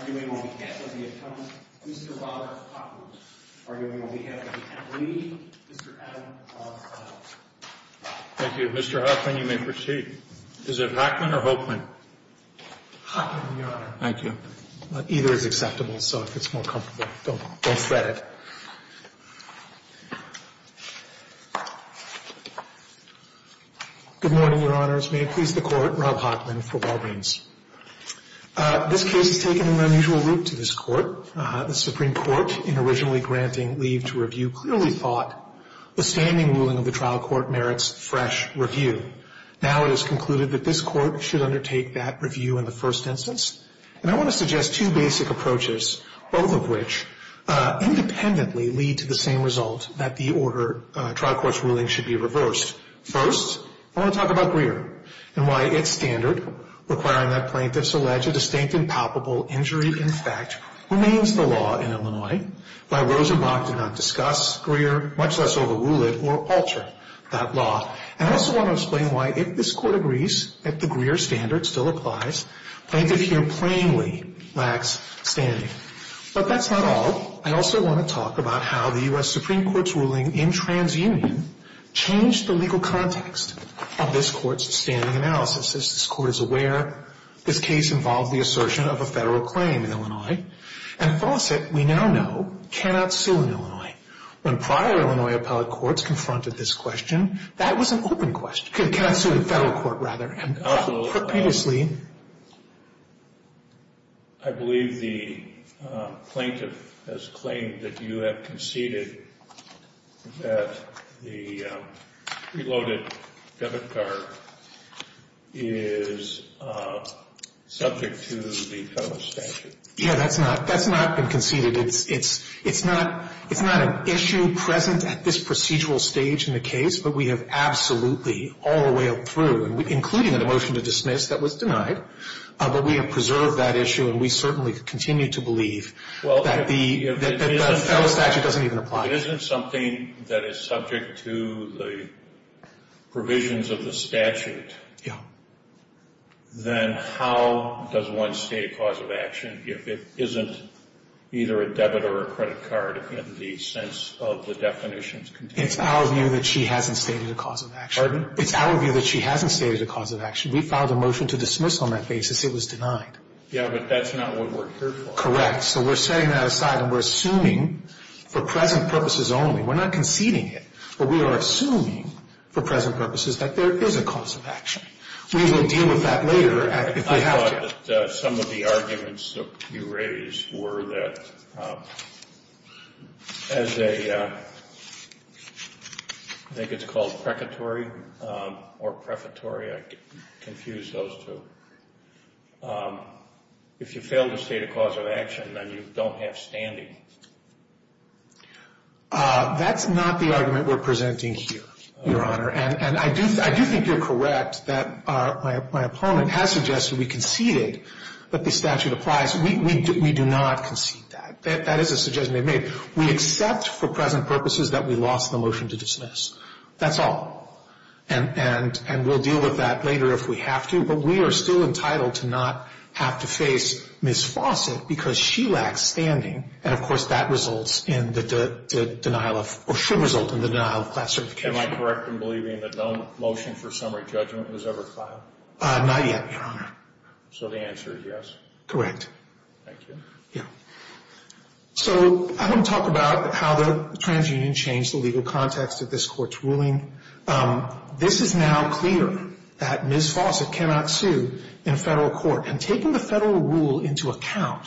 arguing on behalf of the attorney, Mr. Robert Hoffman, arguing on behalf of the attorney, Mr. Adam Hoffman. Mr. Hoffman, you may proceed. Is it Hoffman or Hoffman? Hoffman, Your Honor. Thank you. Either is acceptable, so if it's more comfortable, don't fret it. Good morning, Your Honors. May it please the Court, Rob Hoffman for Walgreens. This case has taken an unusual route to this Court. The Supreme Court, in originally granting leave to review, clearly thought the standing ruling of the trial court merits fresh review. Now it is concluded that this Court should undertake that review in the first instance. And I want to suggest two basic approaches, both of which independently lead to the same result, that the trial court's ruling should be reversed. First, I want to talk about Greer and why its standard, requiring that plaintiffs allege a distinct and palpable injury in fact, remains the law in Illinois. Why Rosenbach did not discuss Greer, much less overrule it or alter that law. And I also want to explain why, if this Court agrees that the Greer standard still applies, plaintiff here plainly lacks standing. But that's not all. I also want to talk about how the U.S. Supreme Court's ruling in TransUnion changed the legal context of this Court's standing analysis. As this Court is aware, this case involved the assertion of a Federal claim in Illinois. And Fawcett, we now know, cannot sue in Illinois. When prior Illinois appellate courts confronted this question, that was an open question. Cannot sue in Federal court, rather. I believe the plaintiff has claimed that you have conceded that the preloaded debit card is subject to the Federal statute. Yeah, that's not been conceded. It's not an issue present at this procedural stage in the case. But we have absolutely, all the way up through, including a motion to dismiss that was denied, but we have preserved that issue. And we certainly continue to believe that the Federal statute doesn't even apply. If it isn't something that is subject to the provisions of the statute, then how does one state a cause of action if it isn't either a debit or a credit card in the sense of the definitions contained? It's our view that she hasn't stated a cause of action. It's our view that she hasn't stated a cause of action. We filed a motion to dismiss on that basis. It was denied. Yeah, but that's not what we're here for. Correct. So we're setting that aside and we're assuming for present purposes only. We're not conceding it, but we are assuming for present purposes that there is a cause of action. We will deal with that later if we have to. I thought that some of the arguments that you raised were that as a, I think it's called precatory or prefatory. I confused those two. If you fail to state a cause of action, then you don't have standing. That's not the argument we're presenting here, Your Honor. And I do think you're correct that my opponent has suggested we conceded that the statute applies. We do not concede that. That is a suggestion they've made. We accept for present purposes that we lost the motion to dismiss. That's all. And we'll deal with that later if we have to. But we are still entitled to not have to face Ms. Fawcett because she lacks standing. And, of course, that results in the denial of, or should result in the denial of class certification. Am I correct in believing that no motion for summary judgment was ever filed? Not yet, Your Honor. So the answer is yes? Correct. Thank you. Yeah. So I want to talk about how the transunion changed the legal context of this Court's ruling. This is now clear that Ms. Fawcett cannot sue in a federal court. And taking the federal rule into account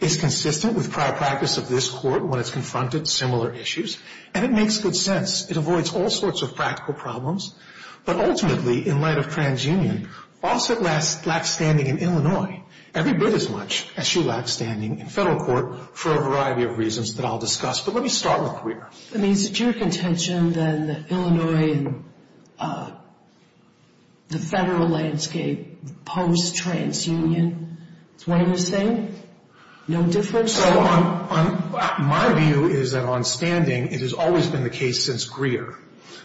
is consistent with prior practice of this Court when it's confronted similar issues. And it makes good sense. It avoids all sorts of practical problems. But ultimately, in light of transunion, Fawcett lacks standing in Illinois. Every bit as much as she lacks standing in federal court for a variety of reasons that I'll discuss. But let me start with Greer. I mean, is it your contention that Illinois and the federal landscape post-transunion is one and the same? No difference? So my view is that on standing, it has always been the case since Greer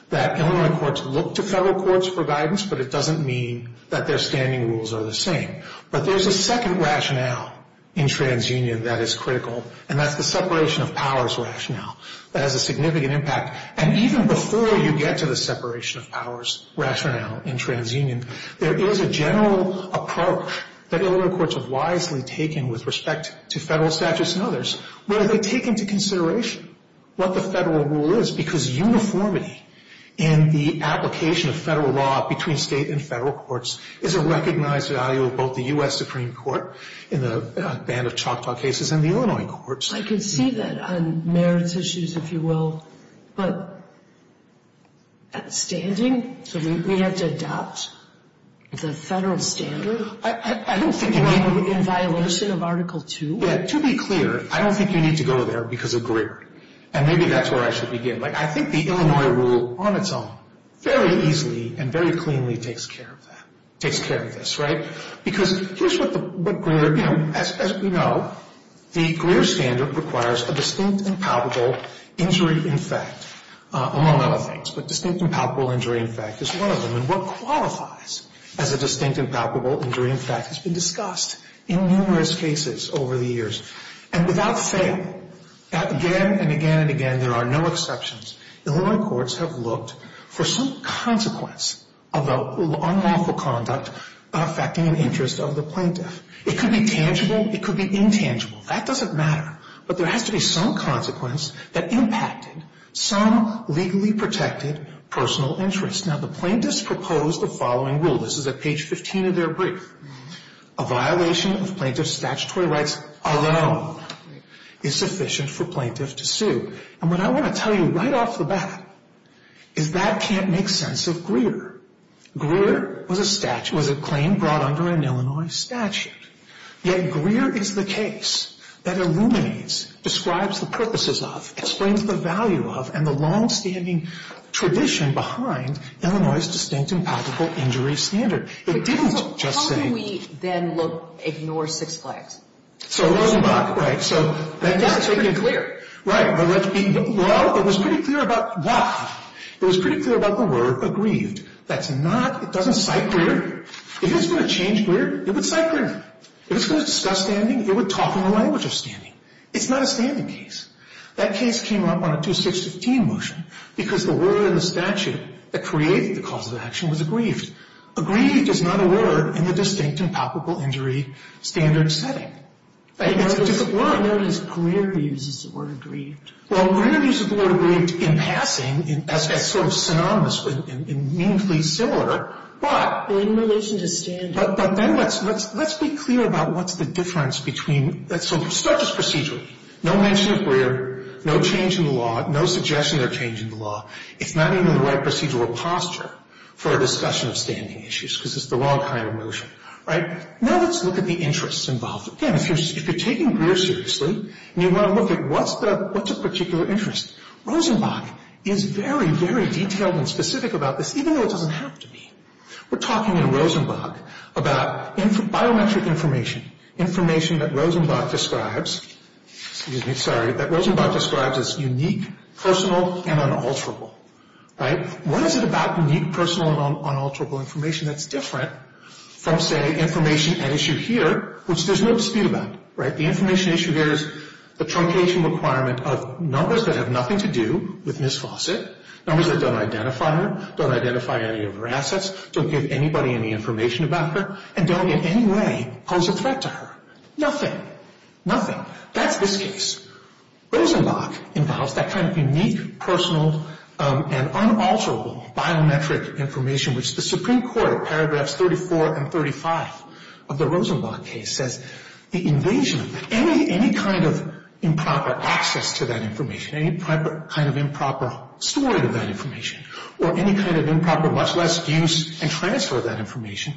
that Illinois courts look to federal courts for guidance, but it doesn't mean that their standing rules are the same. But there's a second rationale in transunion that is critical, and that's the separation of powers rationale. That has a significant impact. And even before you get to the separation of powers rationale in transunion, there is a general approach that Illinois courts have wisely taken with respect to federal statutes and others, where they take into consideration what the federal rule is, because uniformity in the application of federal law between State and federal courts is a recognized value of both the U.S. Supreme Court in the band of Choctaw cases and the Illinois courts. I can see that on merits issues, if you will. But at standing, we have to adopt the federal standard in violation of Article 2? Yeah. To be clear, I don't think you need to go there because of Greer. And maybe that's where I should begin. I think the Illinois rule on its own very easily and very cleanly takes care of that, takes care of this, right? Because here's what Greer, you know, as we know, the Greer standard requires a distinct and palpable injury in fact, among other things. But distinct and palpable injury in fact is one of them. And what qualifies as a distinct and palpable injury in fact has been discussed in numerous cases over the years. And without fail, again and again and again, there are no exceptions, Illinois courts have looked for some consequence of unlawful conduct affecting an interest of the plaintiff. It could be tangible. It could be intangible. That doesn't matter. But there has to be some consequence that impacted some legally protected personal interest. Now, the plaintiffs proposed the following rule. This is at page 15 of their brief. A violation of plaintiff's statutory rights alone is sufficient for plaintiff to sue. And what I want to tell you right off the bat is that can't make sense of Greer. Greer was a statute, was a claim brought under an Illinois statute. Yet Greer is the case that illuminates, describes the purposes of, explains the value of, and the longstanding tradition behind Illinois' distinct and palpable injury standard. It didn't just say. So how do we then look, ignore six flags? So Rosenbach, right, so that doesn't make it clear. Right. Well, it was pretty clear about what? It was pretty clear about the word aggrieved. That's not, it doesn't cite Greer. If it's going to change Greer, it would cite Greer. If it's going to discuss standing, it would talk in the language of standing. It's not a standing case. That case came up on a 2615 motion because the word in the statute that created the cause of the action was aggrieved. Aggrieved is not a word in the distinct and palpable injury standard setting. It's a different word. I know it is Greer who uses the word aggrieved. Well, Greer uses the word aggrieved in passing as sort of synonymous and meaningfully similar, but. In relation to standing. But then let's be clear about what's the difference between. So start just procedurally. No mention of Greer. No change in the law. No suggestion of a change in the law. It's not even the right procedural posture for a discussion of standing issues because it's the wrong kind of motion. Right? Now let's look at the interests involved. Again, if you're taking Greer seriously and you want to look at what's a particular interest. Rosenbach is very, very detailed and specific about this, even though it doesn't have to be. We're talking in Rosenbach about biometric information. Information that Rosenbach describes. Excuse me. Sorry. That Rosenbach describes as unique, personal, and unalterable. Right? What is it about unique, personal, and unalterable information that's different from, say, information at issue here, which there's no dispute about. Right? The information issue here is the truncation requirement of numbers that have nothing to do with Ms. Fawcett. Numbers that don't identify her, don't identify any of her assets, don't give anybody any information about her, and don't in any way pose a threat to her. Nothing. Nothing. That's this case. Rosenbach involves that kind of unique, personal, and unalterable biometric information, which the Supreme Court, paragraphs 34 and 35 of the Rosenbach case, says the invasion of any kind of improper access to that information, any kind of improper storing of that information, or any kind of improper, much less use and transfer of that information,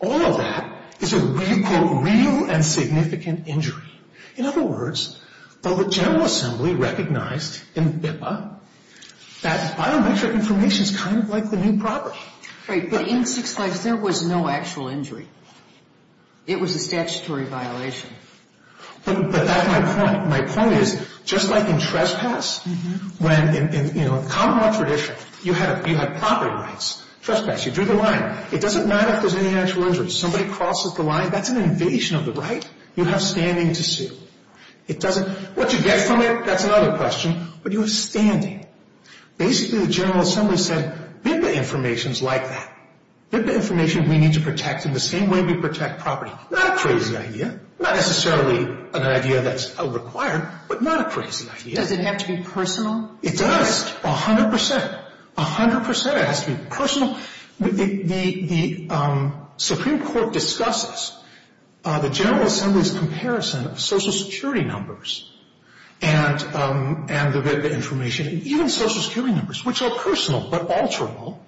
all of that is a, you quote, real and significant injury. In other words, the General Assembly recognized in BIPA that biometric information is kind of like the new property. Right. But in 6-5, there was no actual injury. It was a statutory violation. But that's my point. My point is, just like in trespass, when in, you know, common law tradition, you have property rights, trespass, you drew the line. It doesn't matter if there's any actual injury. Somebody crosses the line, that's an invasion of the right. You have standing to sue. It doesn't, what you get from it, that's another question. But you have standing. Basically, the General Assembly said, BIPA information is like that. BIPA information we need to protect in the same way we protect property. Not a crazy idea. Not necessarily an idea that's required, but not a crazy idea. Does it have to be personal? It does. A hundred percent. A hundred percent. It has to be personal. The Supreme Court discusses the General Assembly's comparison of Social Security numbers and the BIPA information. Even Social Security numbers, which are personal but alterable,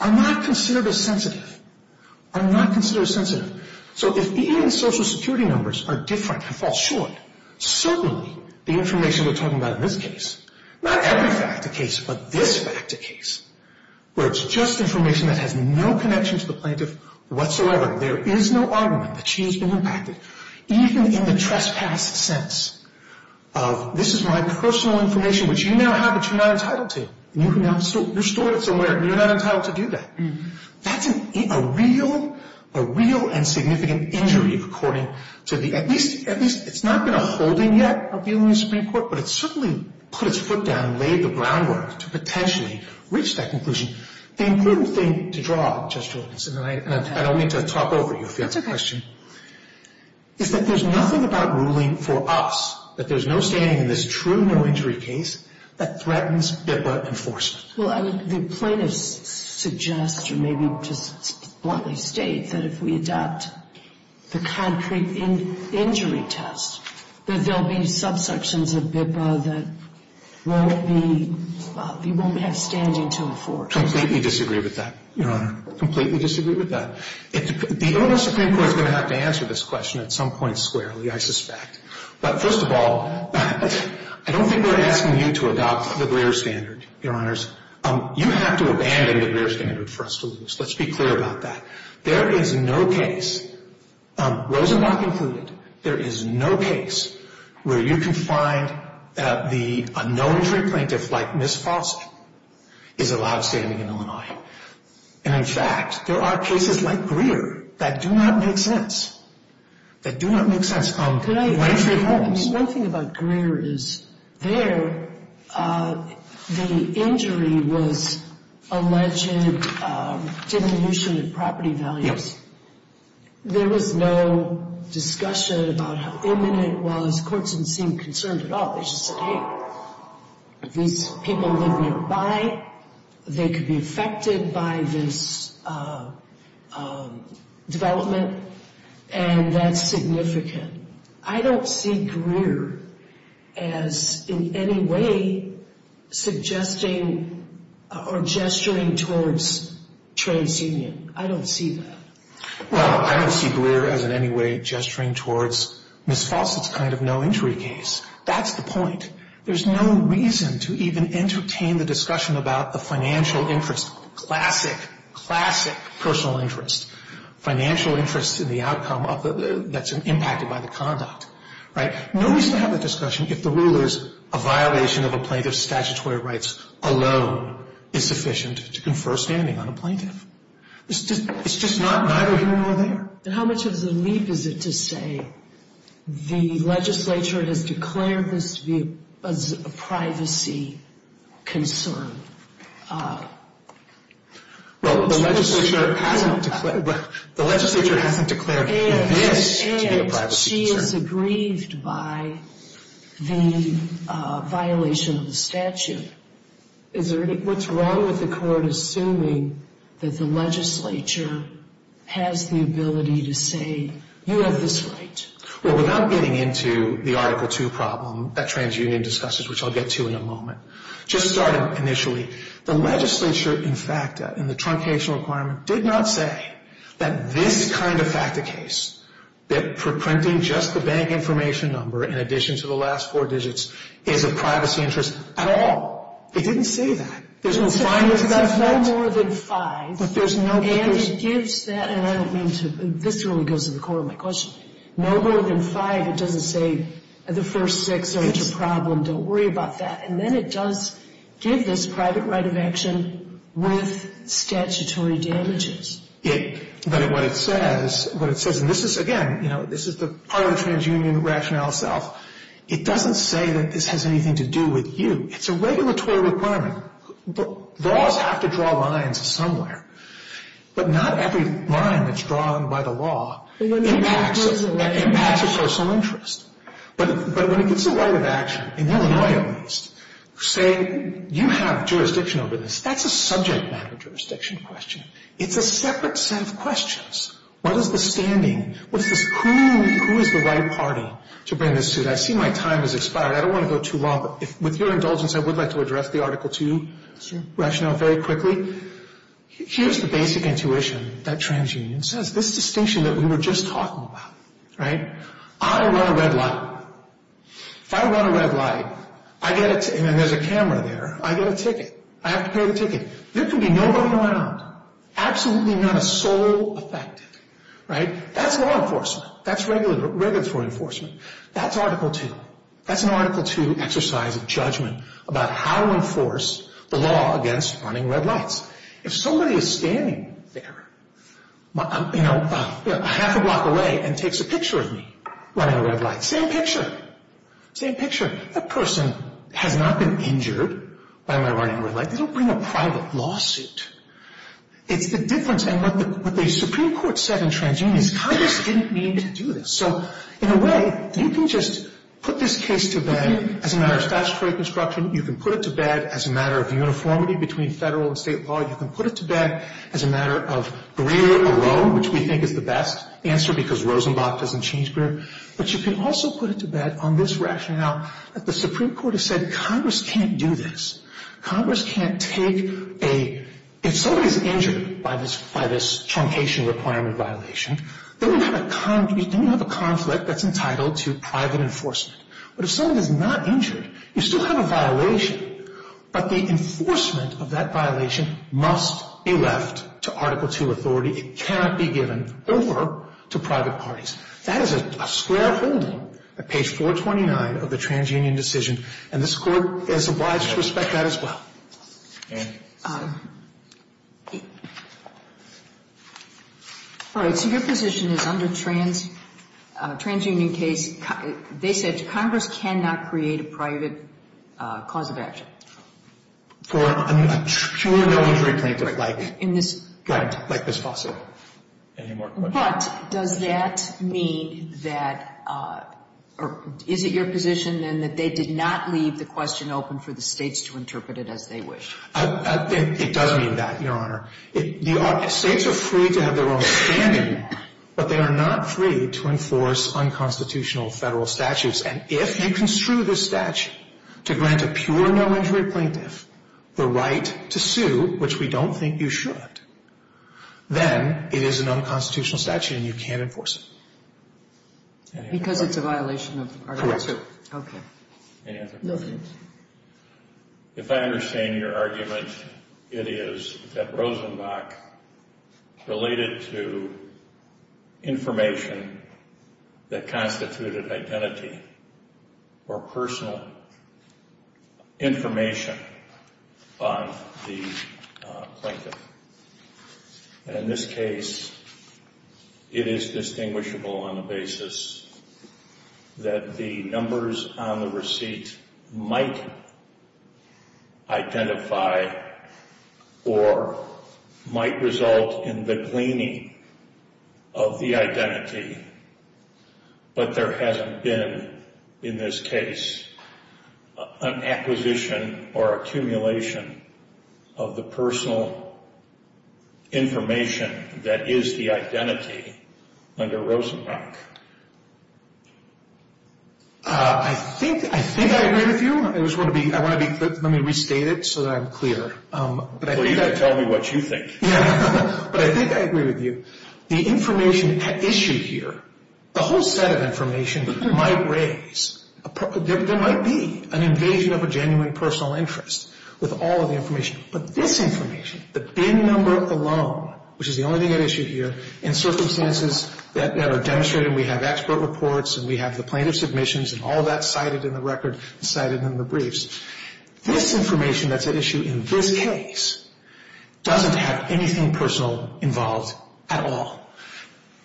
are not considered as sensitive. Are not considered as sensitive. So if even Social Security numbers are different and fall short, certainly the information we're talking about in this case, not every fact to case, but this fact to case, where it's just information that has no connection to the plaintiff whatsoever, there is no argument that she has been impacted, even in the trespass sense of, this is my personal information, which you now have, but you're not entitled to. You can now restore it somewhere, and you're not entitled to do that. That's a real and significant injury according to the, at least, it's not been a holding yet, appeal in the Supreme Court, but it's certainly put its foot down and laid the groundwork to potentially reach that conclusion. The important thing to draw, Judge Jordanson, and I don't need to talk over you if you have a question, is that there's nothing about ruling for us that there's no standing in this true no-injury case that threatens BIPA enforcement. Well, I would, the plaintiff suggests, or maybe just bluntly states, that if we adopt the concrete injury test, that there'll be subsections of BIPA that won't be, you won't have standing to afford. Completely disagree with that, Your Honor. Completely disagree with that. The Illinois Supreme Court is going to have to answer this question at some point squarely, I suspect. But first of all, I don't think we're asking you to adopt the Greer standard, Your Honors. You have to abandon the Greer standard for us to lose. Let's be clear about that. There is no case, Rosenblatt included, there is no case where you can find the no-injury plaintiff like Ms. Foster is allowed standing in Illinois. And in fact, there are cases like Greer that do not make sense, that do not make sense. One thing about Greer is, there, the injury was alleged diminution of property values. There was no discussion about how imminent it was. Courts didn't seem concerned at all. They just said, hey, these people live nearby. They could be affected by this development. And that's significant. I don't see Greer as in any way suggesting or gesturing towards TransUnion. I don't see that. Well, I don't see Greer as in any way gesturing towards Ms. Foster's kind of no-injury case. That's the point. There's no reason to even entertain the discussion about the financial interest. Classic, classic personal interest. Financial interest in the outcome that's impacted by the conduct. Right? No reason to have a discussion if the rule is a violation of a plaintiff's statutory rights alone is sufficient to confer standing on a plaintiff. It's just neither here nor there. And how much of a leap is it to say the legislature has declared this as a privacy concern? Well, the legislature hasn't declared this to be a privacy concern. And she is aggrieved by the violation of the statute. What's wrong with the court assuming that the legislature has the ability to say, you have this right? Well, without getting into the Article II problem that TransUnion discusses, which I'll get to in a moment, just starting initially, the legislature, in fact, in the truncational requirement, did not say that this kind of FACTA case, that for printing just the bank information number in addition to the last four digits, is a privacy interest at all. It didn't say that. There's no findings to that effect. There's no more than five. But there's no papers. And it gives that, and I don't mean to, this really goes to the core of my question. No more than five. It doesn't say the first six aren't a problem. Don't worry about that. And then it does give this private right of action with statutory damages. But what it says, and this is, again, you know, this is the part of the TransUnion rationale itself, it doesn't say that this has anything to do with you. It's a regulatory requirement. Laws have to draw lines somewhere. But not every line that's drawn by the law impacts a personal interest. But when it gets a right of action, in Illinois at least, saying you have jurisdiction over this, that's a subject matter jurisdiction question. It's a separate set of questions. What is the standing? Who is the right party to bring this to? I see my time has expired. I don't want to go too long. But with your indulgence, I would like to address the Article 2 rationale very quickly. Here's the basic intuition that TransUnion says. This distinction that we were just talking about, right? I run a red light. If I run a red light, I get a ticket, and there's a camera there. I get a ticket. I have to pay the ticket. There can be nobody around, absolutely not a soul affected, right? That's law enforcement. That's regulatory enforcement. That's Article 2. That's an Article 2 exercise of judgment about how to enforce the law against running red lights. If somebody is standing there, you know, a half a block away and takes a picture of me running a red light, same picture. Same picture. That person has not been injured by my running a red light. They don't bring a private lawsuit. It's the difference. And what the Supreme Court said in TransUnion is Congress didn't mean to do this. So, in a way, you can just put this case to bed as a matter of statutory construction. You can put it to bed as a matter of uniformity between federal and state law. You can put it to bed as a matter of rear or low, which we think is the best answer because Rosenblatt doesn't change rear. But you can also put it to bed on this rationale that the Supreme Court has said Congress can't do this. Congress can't take a ‑‑ if somebody is injured by this truncation requirement violation, then you have a conflict that's entitled to private enforcement. But if someone is not injured, you still have a violation. But the enforcement of that violation must be left to Article II authority. It cannot be given over to private parties. That is a square holding at page 429 of the TransUnion decision. And this Court has obliged to respect that as well. All right. So your position is under TransUnion case, they said Congress cannot create a private cause of action. For a pure voluntary plaintiff like Ms. Foster. Any more questions? But does that mean that ‑‑ or is it your position, then, that they did not leave the question open for the states to interpret it as they wish? It does mean that, Your Honor. States are free to have their own standing, but they are not free to enforce unconstitutional federal statutes. And if you construe this statute to grant a pure no‑injury plaintiff the right to sue, which we don't think you should, then it is an unconstitutional statute and you can't enforce it. Any other questions? Because it's a violation of Article II. Okay. Any other questions? Nothing. If I understand your argument, it is that Rosenbach related to information that constituted identity or personal information on the plaintiff. And in this case, it is distinguishable on the basis that the numbers on the receipt might identify or might result in the gleaning of the identity. But there hasn't been, in this case, an acquisition or accumulation of the personal information that is the identity under Rosenbach. I think I agree with you. I just want to be ‑‑ let me restate it so that I'm clear. Well, you can tell me what you think. But I think I agree with you. The information at issue here, the whole set of information might raise, there might be an invasion of a genuine personal interest with all of the information. But this information, the BIN number alone, which is the only thing at issue here, in circumstances that are demonstrated, and we have expert reports and we have the plaintiff's submissions and all of that cited in the record and cited in the briefs, this information that's at issue in this case doesn't have anything personal involved at all.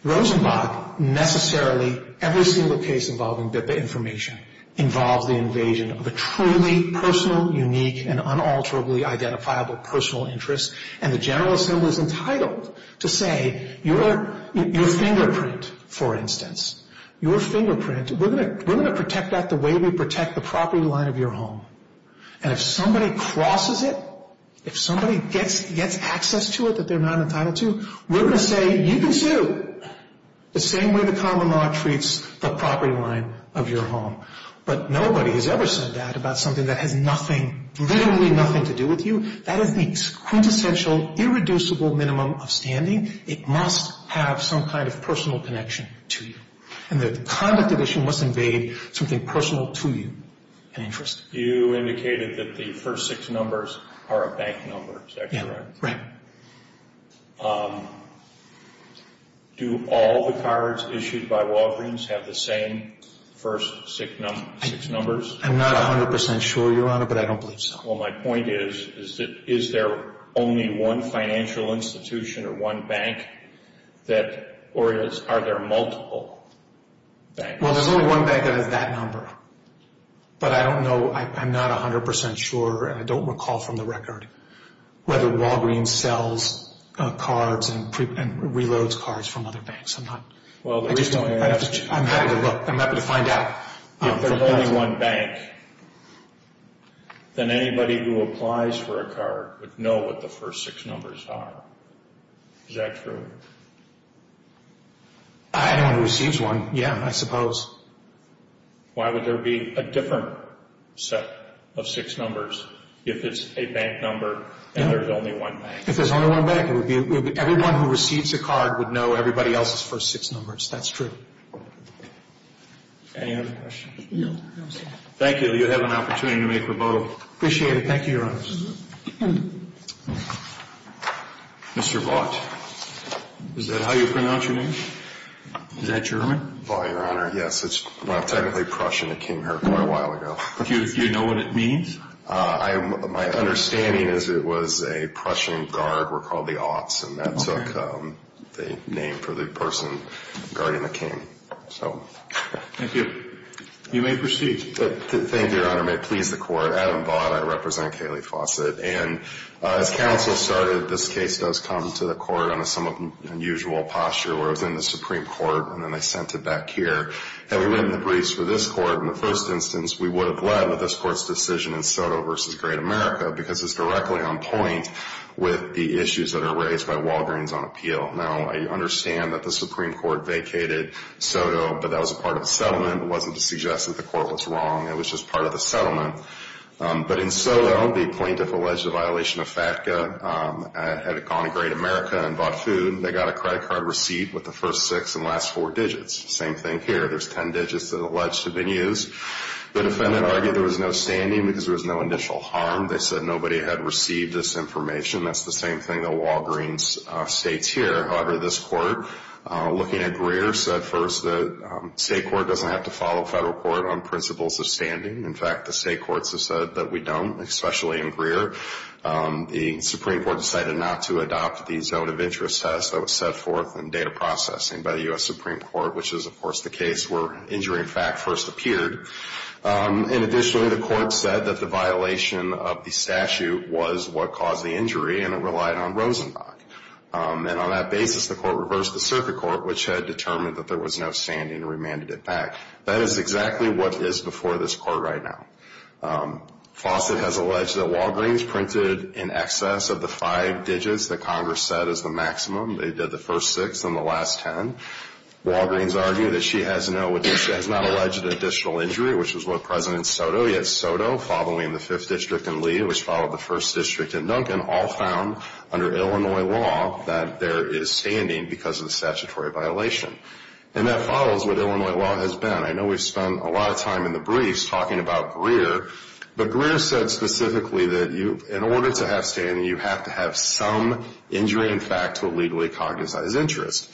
Rosenbach necessarily, every single case involving BIPA information, involves the invasion of a truly personal, unique, and unalterably identifiable personal interest. And the General Assembly is entitled to say, your fingerprint, for instance, your fingerprint, we're going to protect that the way we protect the property line of your home. And if somebody crosses it, if somebody gets access to it that they're not entitled to, we're going to say, you can sue, the same way the common law treats the property line of your home. But nobody has ever said that about something that has nothing, literally nothing to do with you. That is the quintessential, irreducible minimum of standing. It must have some kind of personal connection to you. And the conduct division must invade something personal to you, an interest. You indicated that the first six numbers are a bank number, is that correct? Yeah, right. Do all the cards issued by Walgreens have the same first six numbers? I'm not 100% sure, Your Honor, but I don't believe so. Well, my point is, is there only one financial institution or one bank, or are there multiple banks? Well, there's only one bank that has that number. But I don't know, I'm not 100% sure, and I don't recall from the record, whether Walgreens sells cards and reloads cards from other banks. I'm happy to look, I'm happy to find out. If there's only one bank, then anybody who applies for a card would know what the first six numbers are. Is that true? Anyone who receives one, yeah, I suppose. Why would there be a different set of six numbers if it's a bank number and there's only one bank? If there's only one bank, everyone who receives a card would know everybody else's first six numbers. That's true. Any other questions? No. Thank you. You have an opportunity to make a vote. Appreciate it. Thank you, Your Honor. Mr. Vaught, is that how you pronounce your name? Is that German? Well, Your Honor, yes, it's technically Prussian. It came here quite a while ago. Do you know what it means? My understanding is it was a Prussian guard. That took the name for the person guarding the king. Thank you. You may proceed. Thank you, Your Honor. May it please the Court. Adam Vaught. I represent Kayleigh Fawcett. And as counsel started, this case does come to the Court in a somewhat unusual posture, where it was in the Supreme Court and then they sent it back here. And we went in the briefs for this Court. In the first instance, we would have led with this Court's decision in Soto v. Great America because it's directly on point with the issues that are raised by Walgreens on appeal. Now, I understand that the Supreme Court vacated Soto, but that was a part of the settlement. It wasn't to suggest that the Court was wrong. It was just part of the settlement. But in Soto, the plaintiff alleged a violation of FATCA, had gone to Great America and bought food. They got a credit card receipt with the first six and last four digits. Same thing here. There's ten digits that are alleged to have been used. The defendant argued there was no standing because there was no initial harm. They said nobody had received this information. That's the same thing that Walgreens states here. However, this Court, looking at Greer, said first that state court doesn't have to follow federal court on principles of standing. In fact, the state courts have said that we don't, especially in Greer. The Supreme Court decided not to adopt the zone of interest test that was set forth in data processing by the U.S. Supreme Court, which is, of course, the case where injury in fact first appeared. And additionally, the Court said that the violation of the statute was what caused the injury, and it relied on Rosenbach. And on that basis, the Court reversed the circuit court, which had determined that there was no standing and remanded it back. That is exactly what is before this Court right now. Fawcett has alleged that Walgreens printed in excess of the five digits that Congress said is the maximum. They did the first six and the last ten. Walgreens argued that she has not alleged an additional injury, which was what President Soto, yet Soto, following the Fifth District and Lee, which followed the First District and Duncan, all found under Illinois law that there is standing because of the statutory violation. And that follows what Illinois law has been. I know we've spent a lot of time in the briefs talking about Greer, but Greer said specifically that in order to have standing, you have to have some injury in fact to legally cognize interest.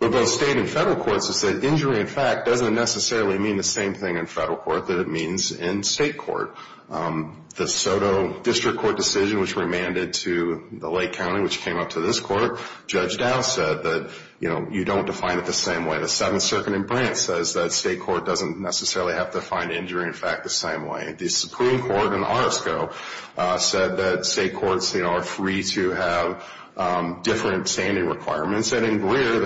But both state and federal courts have said injury in fact doesn't necessarily mean the same thing in federal court that it means in state court. The Soto District Court decision, which remanded to the Lake County, which came up to this Court, Judge Dow said that, you know, you don't define it the same way. The Seventh Circuit in Brant says that state court doesn't necessarily have to find injury in fact the same way. The Supreme Court in Orozco said that state courts, you know, are free to have different standing requirements. And instead in Greer,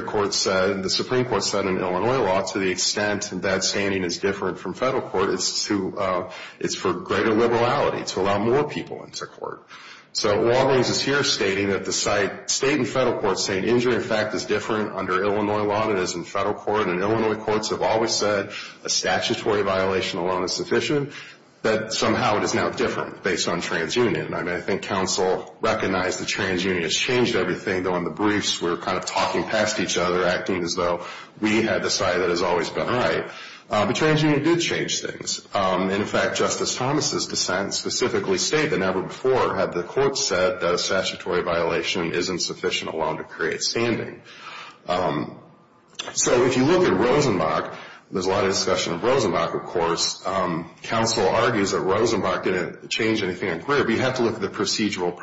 the Supreme Court said in Illinois law, to the extent that standing is different from federal court, it's for greater liberality to allow more people into court. So Walgreens is here stating that the state and federal courts say injury in fact is different under Illinois law than it is in federal court. And Illinois courts have always said a statutory violation alone is sufficient, but somehow it is now different based on transunion. And I think counsel recognized that transunion has changed everything, though in the briefs we're kind of talking past each other, acting as though we had the side that has always been right. But transunion did change things. In fact, Justice Thomas' dissent specifically stated that never before had the court said that a statutory violation isn't sufficient alone to create standing. So if you look at Rosenbach, there's a lot of discussion of Rosenbach, of course. Counsel argues that Rosenbach didn't change anything in Greer, but you have to look at the procedural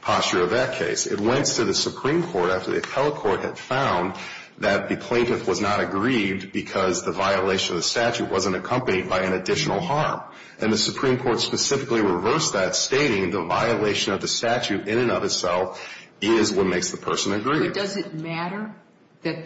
posture of that case. It went to the Supreme Court after the appellate court had found that the plaintiff was not aggrieved because the violation of the statute wasn't accompanied by an additional harm. And the Supreme Court specifically reversed that, stating the violation of the statute in and of itself is what makes the person aggrieved. However, does it matter that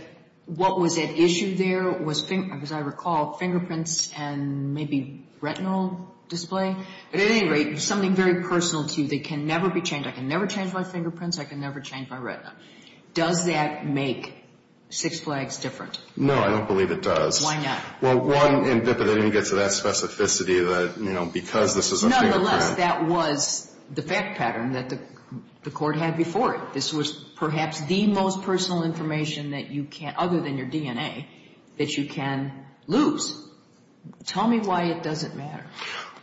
what was at issue there was, as I recall, fingerprints and maybe retinal display? At any rate, something very personal to you that can never be changed. I can never change my fingerprints. I can never change my retina. Does that make Six Flags different? No, I don't believe it does. Why not? Well, one, they didn't get to that specificity that, you know, because this is a fingerprint. Nonetheless, that was the fact pattern that the court had before it. This was perhaps the most personal information that you can, other than your DNA, that you can lose. Tell me why it doesn't matter.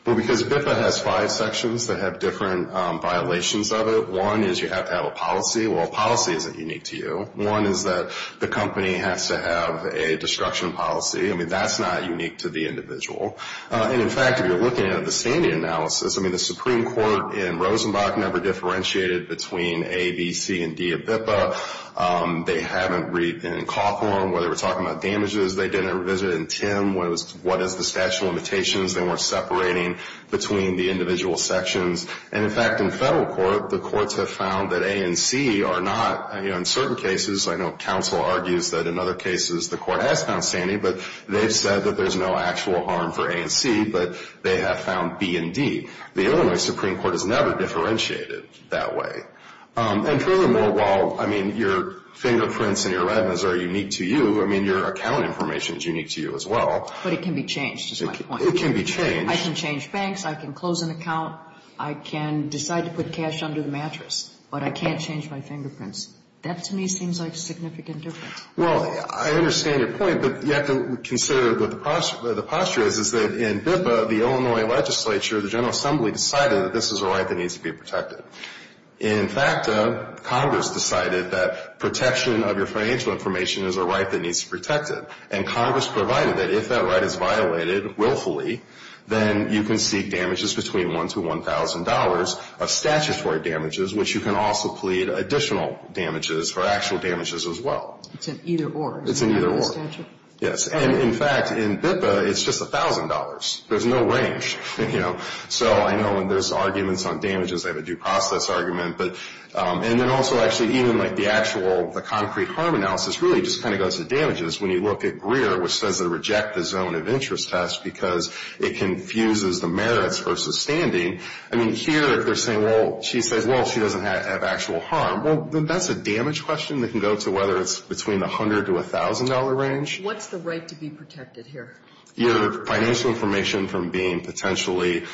Well, because BIFA has five sections that have different violations of it. One is you have to have a policy. Well, a policy isn't unique to you. One is that the company has to have a destruction policy. I mean, that's not unique to the individual. And, in fact, if you're looking at the standing analysis, I mean, the Supreme Court in Rosenbach never differentiated between A, B, C, and D at BIFA. They haven't in Cawthorn, where they were talking about damages, they didn't revisit it. In Tim, what is the statute of limitations? They weren't separating between the individual sections. And, in fact, in federal court, the courts have found that A and C are not, you know, in certain cases, I know counsel argues that in other cases the court has found standing, but they've said that there's no actual harm for A and C, but they have found B and D. The Illinois Supreme Court has never differentiated that way. And, furthermore, while, I mean, your fingerprints and your red ones are unique to you, I mean, your account information is unique to you as well. But it can be changed, is my point. It can be changed. I can change banks. I can close an account. I can decide to put cash under the mattress, but I can't change my fingerprints. That, to me, seems like a significant difference. Well, I understand your point, but you have to consider what the posture is, is that in BIPA, the Illinois legislature, the General Assembly, decided that this is a right that needs to be protected. In FACTA, Congress decided that protection of your financial information is a right that needs to be protected. And Congress provided that if that right is violated willfully, then you can seek damages between $1,000 to $1,000 of statutory damages, which you can also plead additional damages for actual damages as well. It's an either-or. It's an either-or. Yes. And, in fact, in BIPA, it's just $1,000. There's no range, you know. So I know when there's arguments on damages, they have a due process argument. And then also, actually, even like the actual concrete harm analysis really just kind of goes to damages. When you look at Greer, which says they reject the zone of interest test because it confuses the merits versus standing. I mean, here they're saying, well, she says, well, she doesn't have actual harm. Well, that's a damage question that can go to whether it's between the $100 to $1,000 range. What's the right to be protected here? Your financial information from being potentially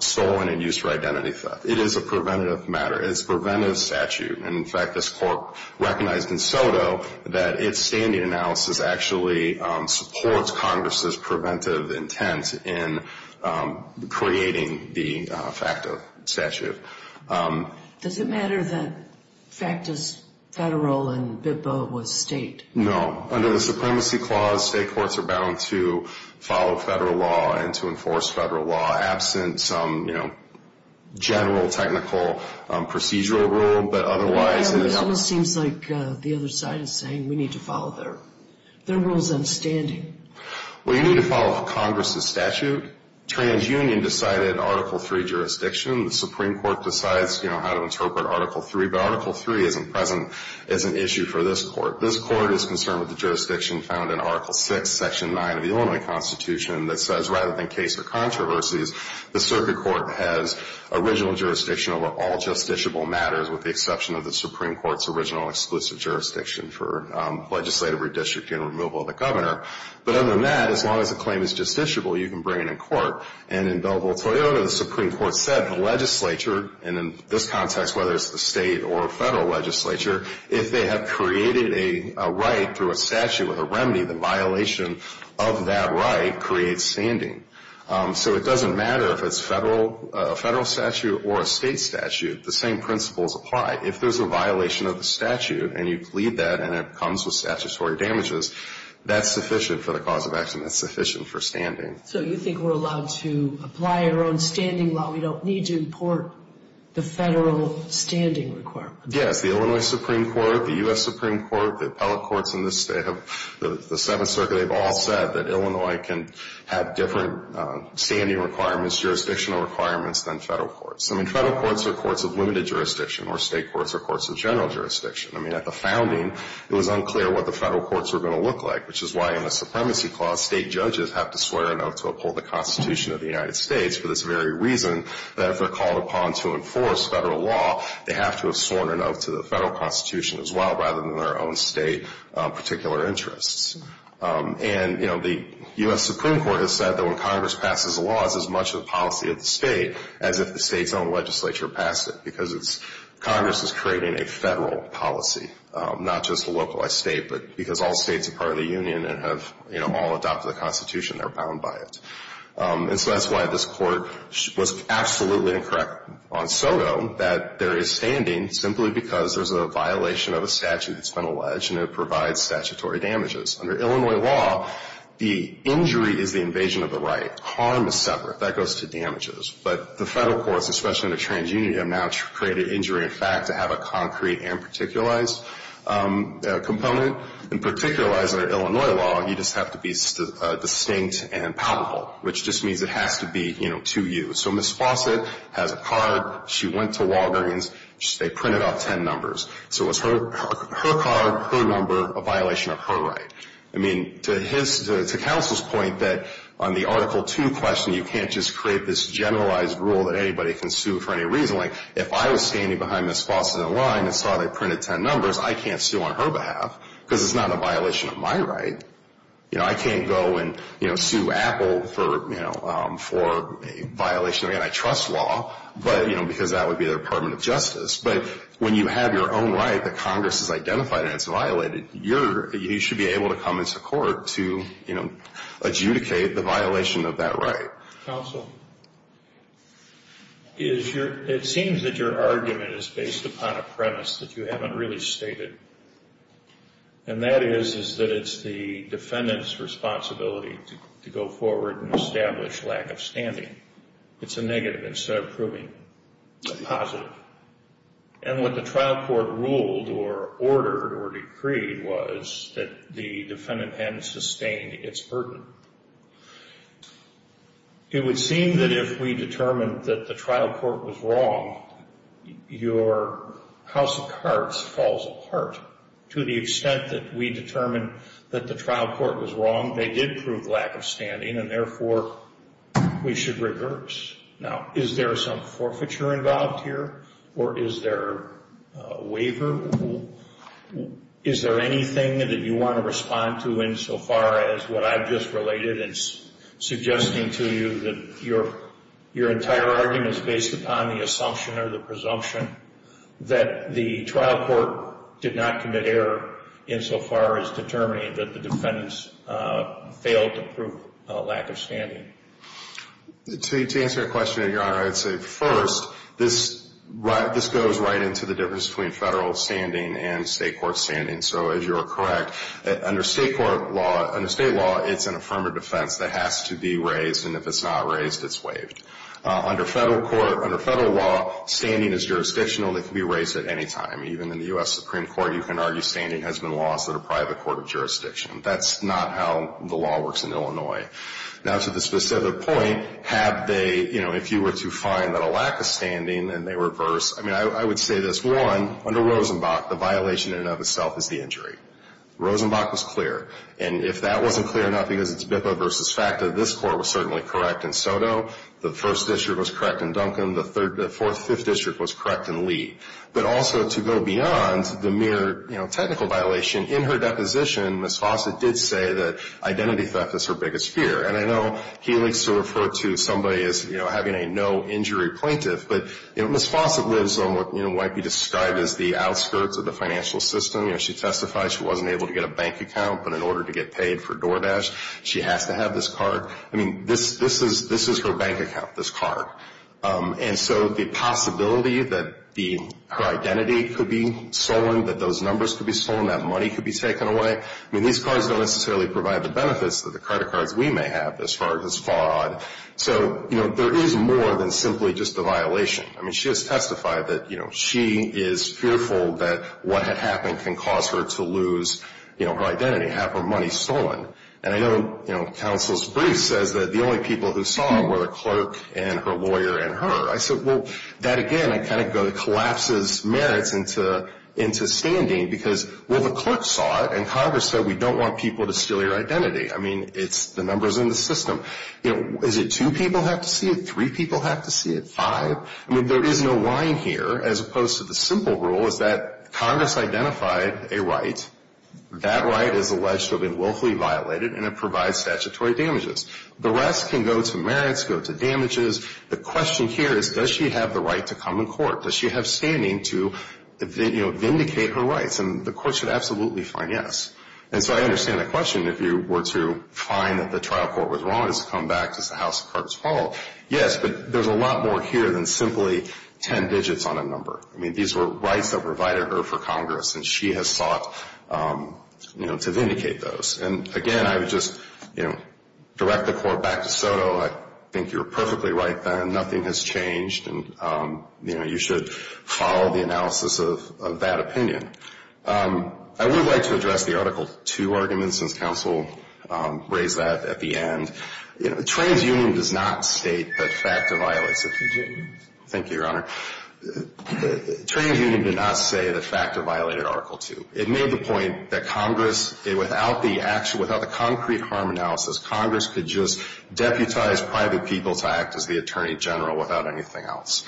stolen and used for identity theft. It is a preventative matter. It's a preventative statute. And, in fact, this Court recognized in SOTO that its standing analysis actually supports Congress's preventive intent in creating the FACTA statute. Does it matter that FACTA's federal and BIPA was state? No. Under the Supremacy Clause, state courts are bound to follow federal law and to enforce federal law, absent some, you know, general technical procedural rule. But otherwise, you know. It almost seems like the other side is saying we need to follow their rules on standing. Well, you need to follow Congress's statute. TransUnion decided Article III jurisdiction. The Supreme Court decides, you know, how to interpret Article III. But Article III isn't present as an issue for this Court. This Court is concerned with the jurisdiction found in Article VI, Section 9 of the Illinois Constitution, that says rather than case or controversies, the circuit court has original jurisdiction over all justiciable matters, with the exception of the Supreme Court's original exclusive jurisdiction for legislative redistricting and removal of the governor. But other than that, as long as a claim is justiciable, you can bring it in court. And in Belleville-Toyota, the Supreme Court said the legislature, and in this context whether it's the state or federal legislature, if they have created a right through a statute with a remedy, the violation of that right creates standing. So it doesn't matter if it's a federal statute or a state statute. The same principles apply. If there's a violation of the statute and you plead that and it comes with statutory damages, that's sufficient for the cause of action. That's sufficient for standing. So you think we're allowed to apply our own standing law? We don't need to import the federal standing requirements? Yes. The Illinois Supreme Court, the U.S. Supreme Court, the appellate courts in this state, the Seventh Circuit, they've all said that Illinois can have different standing requirements, jurisdictional requirements, than federal courts. I mean, federal courts are courts of limited jurisdiction, or state courts are courts of general jurisdiction. I mean, at the founding, it was unclear what the federal courts were going to look like, which is why in the Supremacy Clause state judges have to swear an oath to uphold the Constitution of the United States for this very reason that if they're called upon to enforce federal law, they have to have sworn an oath to the federal Constitution as well, rather than their own state particular interests. And, you know, the U.S. Supreme Court has said that when Congress passes a law, it's as much a policy of the state as if the state's own legislature passed it, because Congress is creating a federal policy, not just a localized state, but because all states are part of the union and have, you know, all adopted the Constitution, they're bound by it. And so that's why this Court was absolutely incorrect on SOTO, that there is standing simply because there's a violation of a statute that's been alleged, and it provides statutory damages. Under Illinois law, the injury is the invasion of the right. Harm is separate. That goes to damages. But the federal courts, especially under TransUnion, have now created injury in fact to have a concrete and particularized component. And particularized under Illinois law, you just have to be distinct and palpable, which just means it has to be, you know, to you. So Ms. Fawcett has a card. She went to Walgreens. They printed off ten numbers. So it was her card, her number, a violation of her right. I mean, to counsel's point that on the Article 2 question, you can't just create this generalized rule that anybody can sue for any reason. Like if I was standing behind Ms. Fawcett in line and saw they printed ten numbers, I can't sue on her behalf because it's not a violation of my right. You know, I can't go and, you know, sue Apple for, you know, for a violation. I mean, I trust law, but, you know, because that would be the Department of Justice. But when you have your own right that Congress has identified and it's violated, you should be able to come into court to, you know, adjudicate the violation of that right. Counsel? It seems that your argument is based upon a premise that you haven't really stated. And that is that it's the defendant's responsibility to go forward and establish lack of standing. It's a negative instead of proving a positive. And what the trial court ruled or ordered or decreed was that the defendant hadn't sustained its burden. It would seem that if we determined that the trial court was wrong, your house of cards falls apart. To the extent that we determined that the trial court was wrong, they did prove lack of standing, and therefore we should reverse. Now, is there some forfeiture involved here, or is there a waiver? Is there anything that you want to respond to insofar as what I've just related and suggesting to you that your entire argument is based upon the assumption or the presumption that the trial court did not commit error insofar as determining that the defendants failed to prove lack of standing? To answer your question, Your Honor, I would say first, this goes right into the difference between federal standing and state court standing. So, as you are correct, under state law, it's an affirmative defense that has to be raised, and if it's not raised, it's waived. Under federal law, standing is jurisdictional. It can be raised at any time. Even in the U.S. Supreme Court, you can argue standing has been lost in a private court of jurisdiction. That's not how the law works in Illinois. Now, to the specific point, have they, you know, if you were to find that a lack of standing and they reverse, I mean, I would say this. One, under Rosenbach, the violation in and of itself is the injury. Rosenbach was clear. And if that wasn't clear enough because it's BIPA versus FACTA, this court was certainly correct in Soto. The First District was correct in Duncan. The Fourth, Fifth District was correct in Lee. But also to go beyond the mere, you know, technical violation, in her deposition, Ms. Fawcett did say that identity theft is her biggest fear. And I know he likes to refer to somebody as, you know, having a no-injury plaintiff. But, you know, Ms. Fawcett lives on what, you know, might be described as the outskirts of the financial system. You know, she testified she wasn't able to get a bank account, but in order to get paid for DoorDash, she has to have this card. I mean, this is her bank account, this card. And so the possibility that her identity could be stolen, that those numbers could be stolen, that money could be taken away, I mean, these cards don't necessarily provide the benefits that the credit cards we may have as far as FOD. So, you know, there is more than simply just a violation. I mean, she has testified that, you know, she is fearful that what had happened can cause her to lose, you know, her identity, have her money stolen. And I know, you know, counsel's brief says that the only people who saw her were the clerk and her lawyer and her. I said, well, that, again, it kind of collapses merits into standing because, well, the clerk saw it, and Congress said we don't want people to steal your identity. I mean, it's the numbers in the system. You know, is it two people have to see it, three people have to see it, five? I mean, there is no lying here, as opposed to the simple rule, is that Congress identified a right. That right is alleged to have been willfully violated, and it provides statutory damages. The rest can go to merits, go to damages. The question here is, does she have the right to come in court? Does she have standing to, you know, vindicate her rights? And the court should absolutely find yes. And so I understand the question. If you were to find that the trial court was wrong, it's to come back to the House of Cards Hall. Yes, but there's a lot more here than simply ten digits on a number. I mean, these were rights that provided her for Congress, and she has sought, you know, to vindicate those. And, again, I would just, you know, direct the court back to Soto. I think you're perfectly right, Ben. Nothing has changed. And, you know, you should follow the analysis of that opinion. I would like to address the Article 2 argument, since counsel raised that at the end. You know, TransUnion does not state that FACTA violates it. Thank you, Your Honor. TransUnion did not say that FACTA violated Article 2. It made the point that Congress, without the concrete harm analysis, Congress could just deputize private people to act as the attorney general without anything else.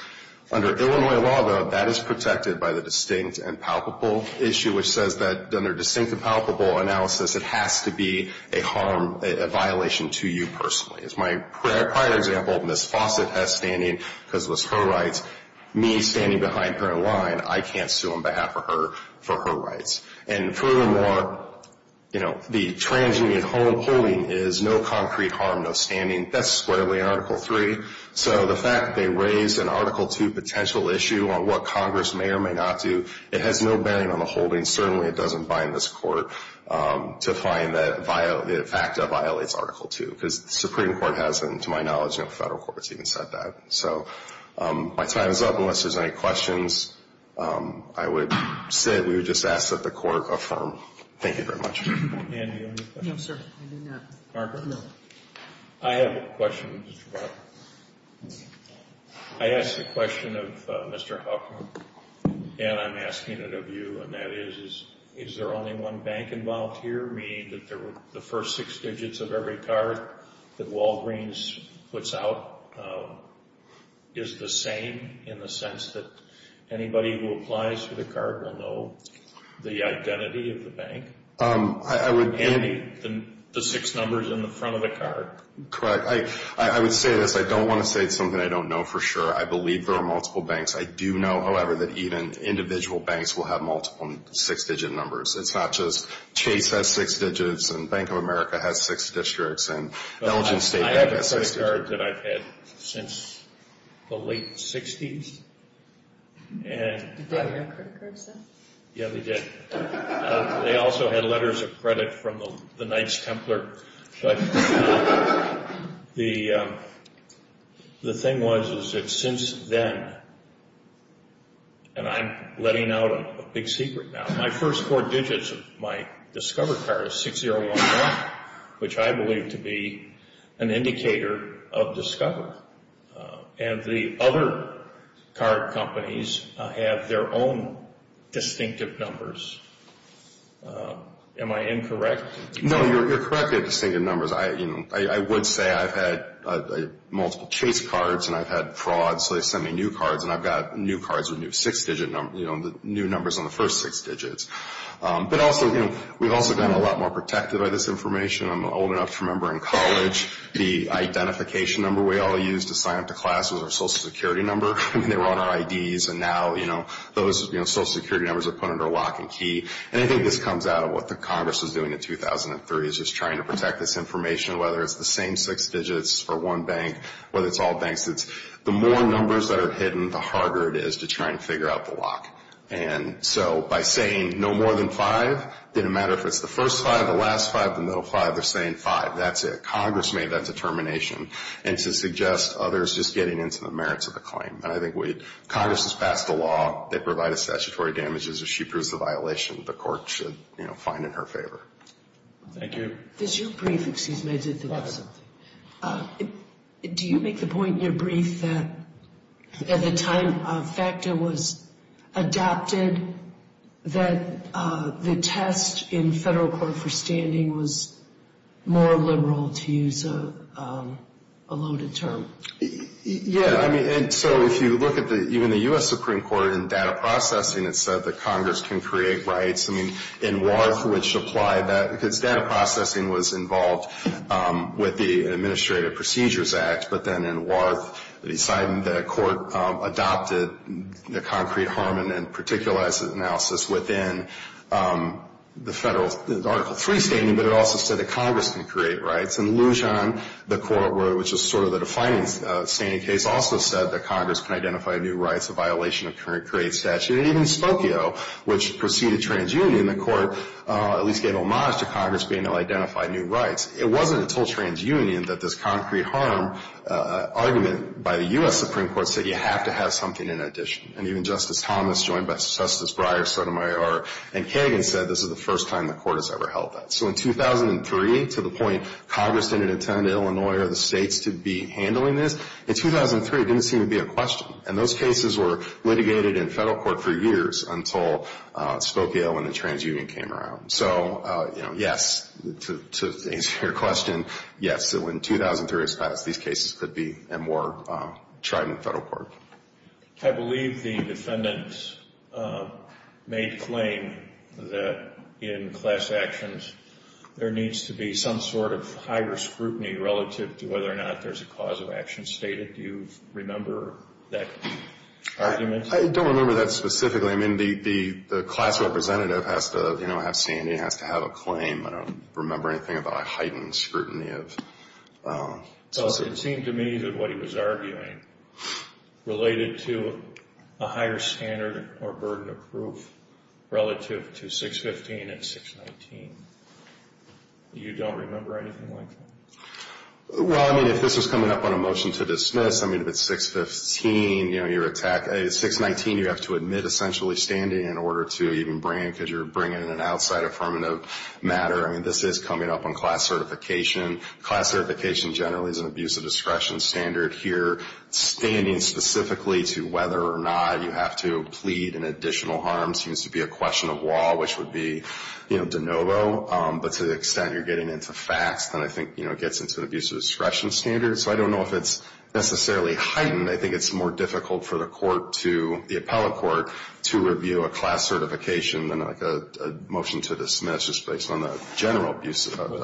Under Illinois law, though, that is protected by the distinct and palpable issue, which says that under distinct and palpable analysis, it has to be a harm, a violation to you personally. As my prior example, Ms. Fawcett has standing because it was her rights. Me standing behind her in line, I can't sue on behalf of her for her rights. And furthermore, you know, the TransUnion holding is no concrete harm, no standing. That's squarely in Article 3. So the fact they raised an Article 2 potential issue on what Congress may or may not do, it has no bearing on the holding. Certainly it doesn't bind this court to find that FACTA violates Article 2, because the Supreme Court has them. To my knowledge, no federal court has even said that. So my time is up. Unless there's any questions, I would sit. We would just ask that the court affirm. Thank you very much. Ann, do you have any questions? No, sir. I do not. Barbara? No. I have a question, Mr. Brown. I asked a question of Mr. Huffman, and I'm asking it of you, and that is, is there only one bank involved here, meaning that the first six digits of every card that Walgreens puts out is the same, in the sense that anybody who applies for the card will know the identity of the bank, and the six numbers in the front of the card? Correct. I would say this. I don't want to say it's something I don't know for sure. I believe there are multiple banks. I do know, however, that even individual banks will have multiple six-digit numbers. It's not just Chase has six digits, and Bank of America has six districts, and Elgin State has six digits. There's a number of cards that I've had since the late 60s. Did they have credit cards then? Yeah, they did. They also had letters of credit from the Knights Templar. But the thing was is that since then, and I'm letting out a big secret now, my first four digits of my Discover card is 6011, which I believe to be an indicator of Discover. And the other card companies have their own distinctive numbers. Am I incorrect? No, you're correct. They have distinctive numbers. I would say I've had multiple Chase cards, and I've had fraud, so they send me new cards, and I've got new cards with new six-digit numbers, you know, new numbers on the first six digits. But also, you know, we've also gotten a lot more protected by this information. I'm old enough to remember in college the identification number we all used to sign up to class was our Social Security number. I mean, they were on our IDs, and now, you know, those Social Security numbers are put under lock and key. And I think this comes out of what the Congress was doing in 2003, is just trying to protect this information, whether it's the same six digits or one bank, whether it's all banks. It's the more numbers that are hidden, the harder it is to try and figure out the lock. And so by saying no more than five, didn't matter if it's the first five, the last five, the middle five, they're saying five, that's it. Congress made that determination. And to suggest others just getting into the merits of the claim. And I think Congress has passed a law that provided statutory damages. If she proves the violation, the court should, you know, find it in her favor. Thank you. Does your brief, excuse me, I did think of something. Do you make the point in your brief that at the time FACTA was adopted, that the test in federal court for standing was more liberal, to use a loaded term? Yeah, I mean, so if you look at even the U.S. Supreme Court in data processing, it said that Congress can create rights. I mean, in Warth, which applied that, because data processing was involved with the Administrative Procedures Act. But then in Warth, the court adopted the concrete harm and then particularizes analysis within the federal Article III standing. But it also said that Congress can create rights. And Lujan, the court, which is sort of the defining standing case, also said that Congress can identify new rights, a violation of current create statute. And even Spokio, which preceded TransUnion, the court at least gave homage to Congress being able to identify new rights. It wasn't until TransUnion that this concrete harm argument by the U.S. Supreme Court said you have to have something in addition. And even Justice Thomas, joined by Justice Breyer, Sotomayor, and Kagan said this is the first time the court has ever held that. So in 2003, to the point Congress didn't intend Illinois or the states to be handling this, in 2003 it didn't seem to be a question. And those cases were litigated in federal court for years until Spokio and the TransUnion came around. So, you know, yes, to answer your question, yes, in 2003, these cases could be more tried in federal court. I believe the defendants made claim that in class actions, there needs to be some sort of higher scrutiny relative to whether or not there's a cause of action stated. Do you remember that argument? I don't remember that specifically. I mean, the class representative has to, you know, have standing, has to have a claim. I don't remember anything about a heightened scrutiny of... It seemed to me that what he was arguing related to a higher standard or burden of proof relative to 615 and 619. You don't remember anything like that? Well, I mean, if this was coming up on a motion to dismiss, I mean, if it's 615, you know, you're attacked. At 619, you have to admit essentially standing in order to even bring in, because you're bringing in an outside affirmative matter. I mean, this is coming up on class certification. Class certification generally is an abuse of discretion standard. Here, standing specifically to whether or not you have to plead an additional harm seems to be a question of law, which would be, you know, de novo. But to the extent you're getting into facts, then I think, you know, it gets into an abuse of discretion standard. So I don't know if it's necessarily heightened. I think it's more difficult for the court to, the appellate court, to review a class certification than like a motion to dismiss just based on a general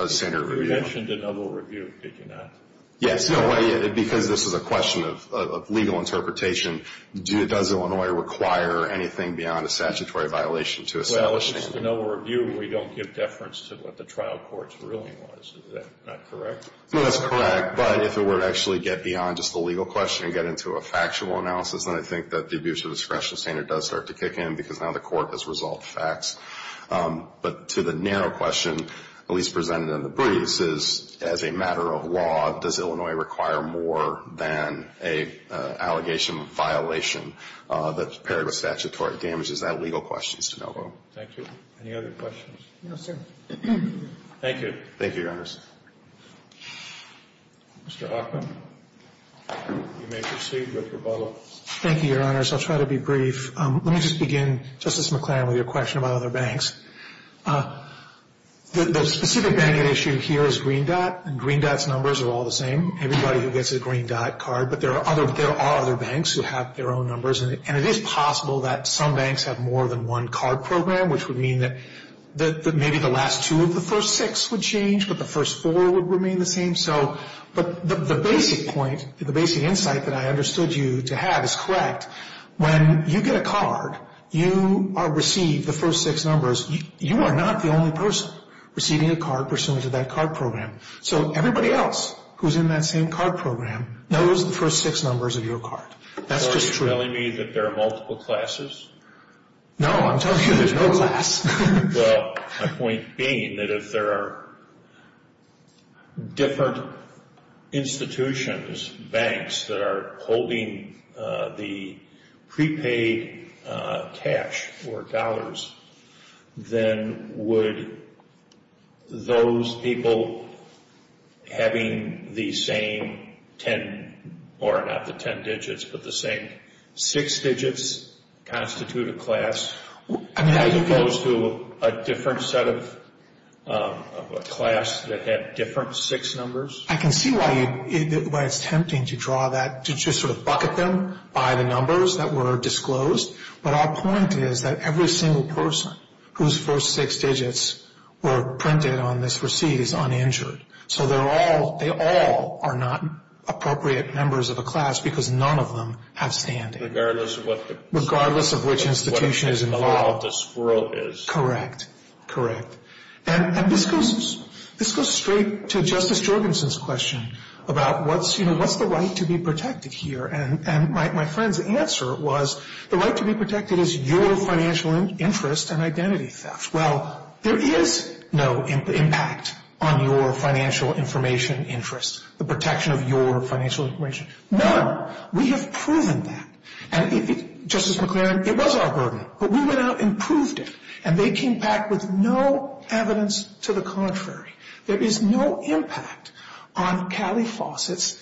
standard review. You mentioned de novo review, did you not? Yes. Because this is a question of legal interpretation, does Illinois require anything beyond a statutory violation to establish... If it's just a de novo review, we don't give deference to what the trial court's ruling was. Is that not correct? No, that's correct. But if it were to actually get beyond just the legal question and get into a factual analysis, then I think that the abuse of discretion standard does start to kick in because now the court has resolved facts. But to the narrow question, at least presented in the briefs, is as a matter of law, does Illinois require more than an allegation of violation that's paired with statutory damages? That legal question is de novo. Thank you. Any other questions? No, sir. Thank you. Mr. Hoffman, you may proceed with rebuttal. Thank you, Your Honors. I'll try to be brief. Let me just begin, Justice McClaren, with your question about other banks. The specific banking issue here is Green Dot, and Green Dot's numbers are all the same. Everybody who gets a Green Dot card, but there are other banks who have their own numbers, and it is possible that some banks have more than one card program, which would mean that maybe the last two of the first six would change, but the first four would remain the same. But the basic point, the basic insight that I understood you to have is correct. When you get a card, you receive the first six numbers. You are not the only person receiving a card pursuant to that card program. So everybody else who's in that same card program knows the first six numbers of your card. That's just true. Are you telling me that there are multiple classes? No, I'm telling you there's no class. Well, my point being that if there are different institutions, banks, that are holding the prepaid cash or dollars, then would those people having the same ten, or not the ten digits, but the same six digits constitute a class? Are you opposed to a different set of class that had different six numbers? I can see why it's tempting to draw that, to just sort of bucket them by the numbers that were disclosed, but our point is that every single person whose first six digits were printed on this receipt is uninjured. So they all are not appropriate members of a class because none of them have standing. Regardless of which institution is involved. Correct, correct. And this goes straight to Justice Jorgensen's question about what's the right to be protected here? And my friend's answer was the right to be protected is your financial interest and identity theft. Well, there is no impact on your financial information interest, the protection of your financial information. None. We have proven that. And Justice McClaren, it was our burden, but we went out and proved it, and they came back with no evidence to the contrary. There is no impact on Callie Fawcett's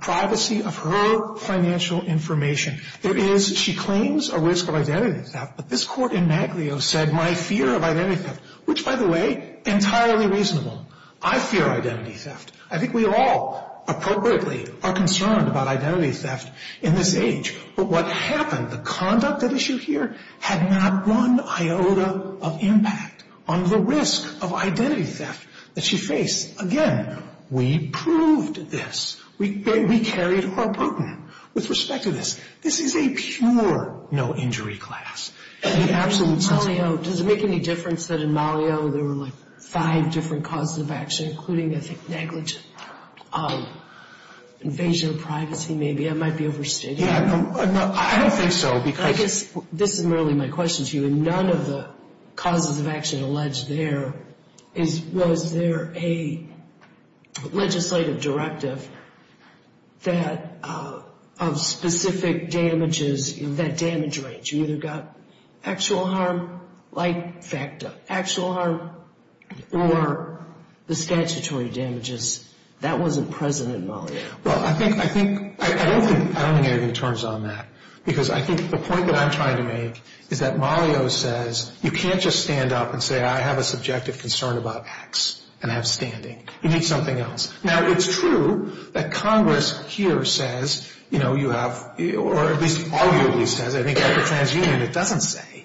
privacy of her financial information. There is, she claims a risk of identity theft, but this court in Maglio said, my fear of identity theft, which, by the way, entirely reasonable. I fear identity theft. I think we all appropriately are concerned about identity theft in this age. But what happened, the conduct at issue here had not one iota of impact on the risk of identity theft that she faced. Again, we proved this. We carried our burden with respect to this. This is a pure no-injury class. In Maglio, does it make any difference that in Maglio there were, like, five different causes of action, including, I think, negligent invasion of privacy, maybe? I might be overstating. I don't think so. I guess this is merely my question to you. None of the causes of action alleged there is, was there a legislative directive that of specific damages, that damage range? You either got actual harm, like FACTA, actual harm, or the statutory damages. That wasn't present in Maglio. Well, I think, I think, I don't think, I don't think anything turns on that. Because I think the point that I'm trying to make is that Maglio says you can't just stand up and say, I have a subjective concern about X and have standing. You need something else. Now, it's true that Congress here says, you know, you have, or at least arguably says, I think at the TransUnion it doesn't say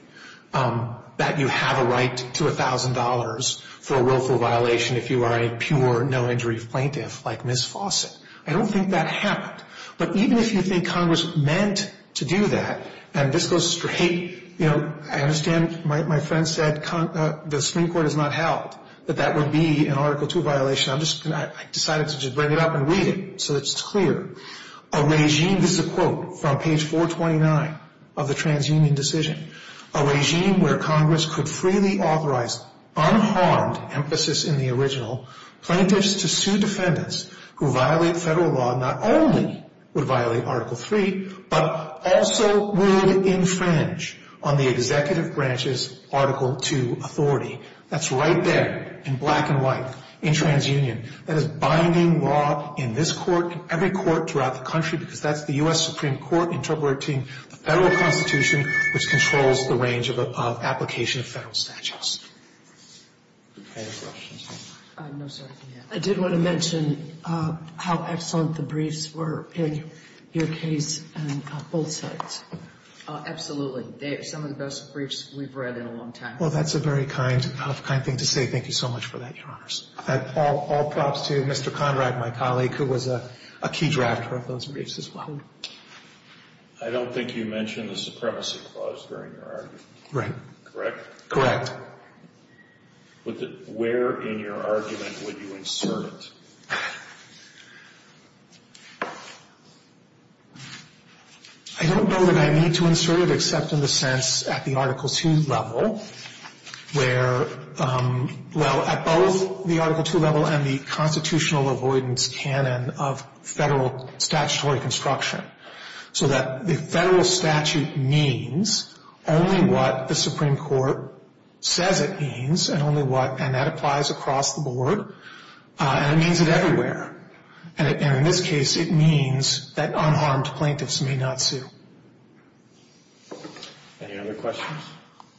that you have a right to $1,000 for a willful violation if you are a pure, no-injury plaintiff like Ms. Fawcett. I don't think that happened. But even if you think Congress meant to do that, and this goes straight, you know, I understand my friend said the Supreme Court has not held that that would be an Article II violation. I'm just going to, I decided to just bring it up and read it so it's clear. A regime, this is a quote from page 429 of the TransUnion decision, a regime where Congress could freely authorize unharmed emphasis in the original plaintiffs to sue defendants who violate federal law not only would violate Article III, but also would infringe on the executive branch's Article II authority. That's right there in black and white in TransUnion. That is binding law in this Court, in every court throughout the country, because that's the U.S. Supreme Court interpreting the Federal Constitution, which controls the range of application of Federal statutes. Any other questions? No, sir. I did want to mention how excellent the briefs were in your case on both sides. Absolutely. They are some of the best briefs we've read in a long time. Well, that's a very kind, kind thing to say. Thank you so much for that, Your Honors. All props to Mr. Conrad, my colleague, who was a key drafter of those briefs as well. I don't think you mentioned the Supremacy Clause during your argument. Right. Correct? Correct. Where in your argument would you insert it? I don't know that I need to insert it, except in the sense at the Article II level, where, well, at both the Article II level and the constitutional avoidance canon of Federal statutory construction, so that the Federal statute means only what the Supreme Court says it means and only what, and that applies across the board, and it means it everywhere. And in this case, it means that unharmed plaintiffs may not sue. Any other questions?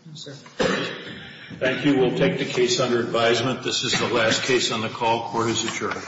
No, sir. Thank you. We'll take the case under advisement. This is the last case on the call. Court is adjourned.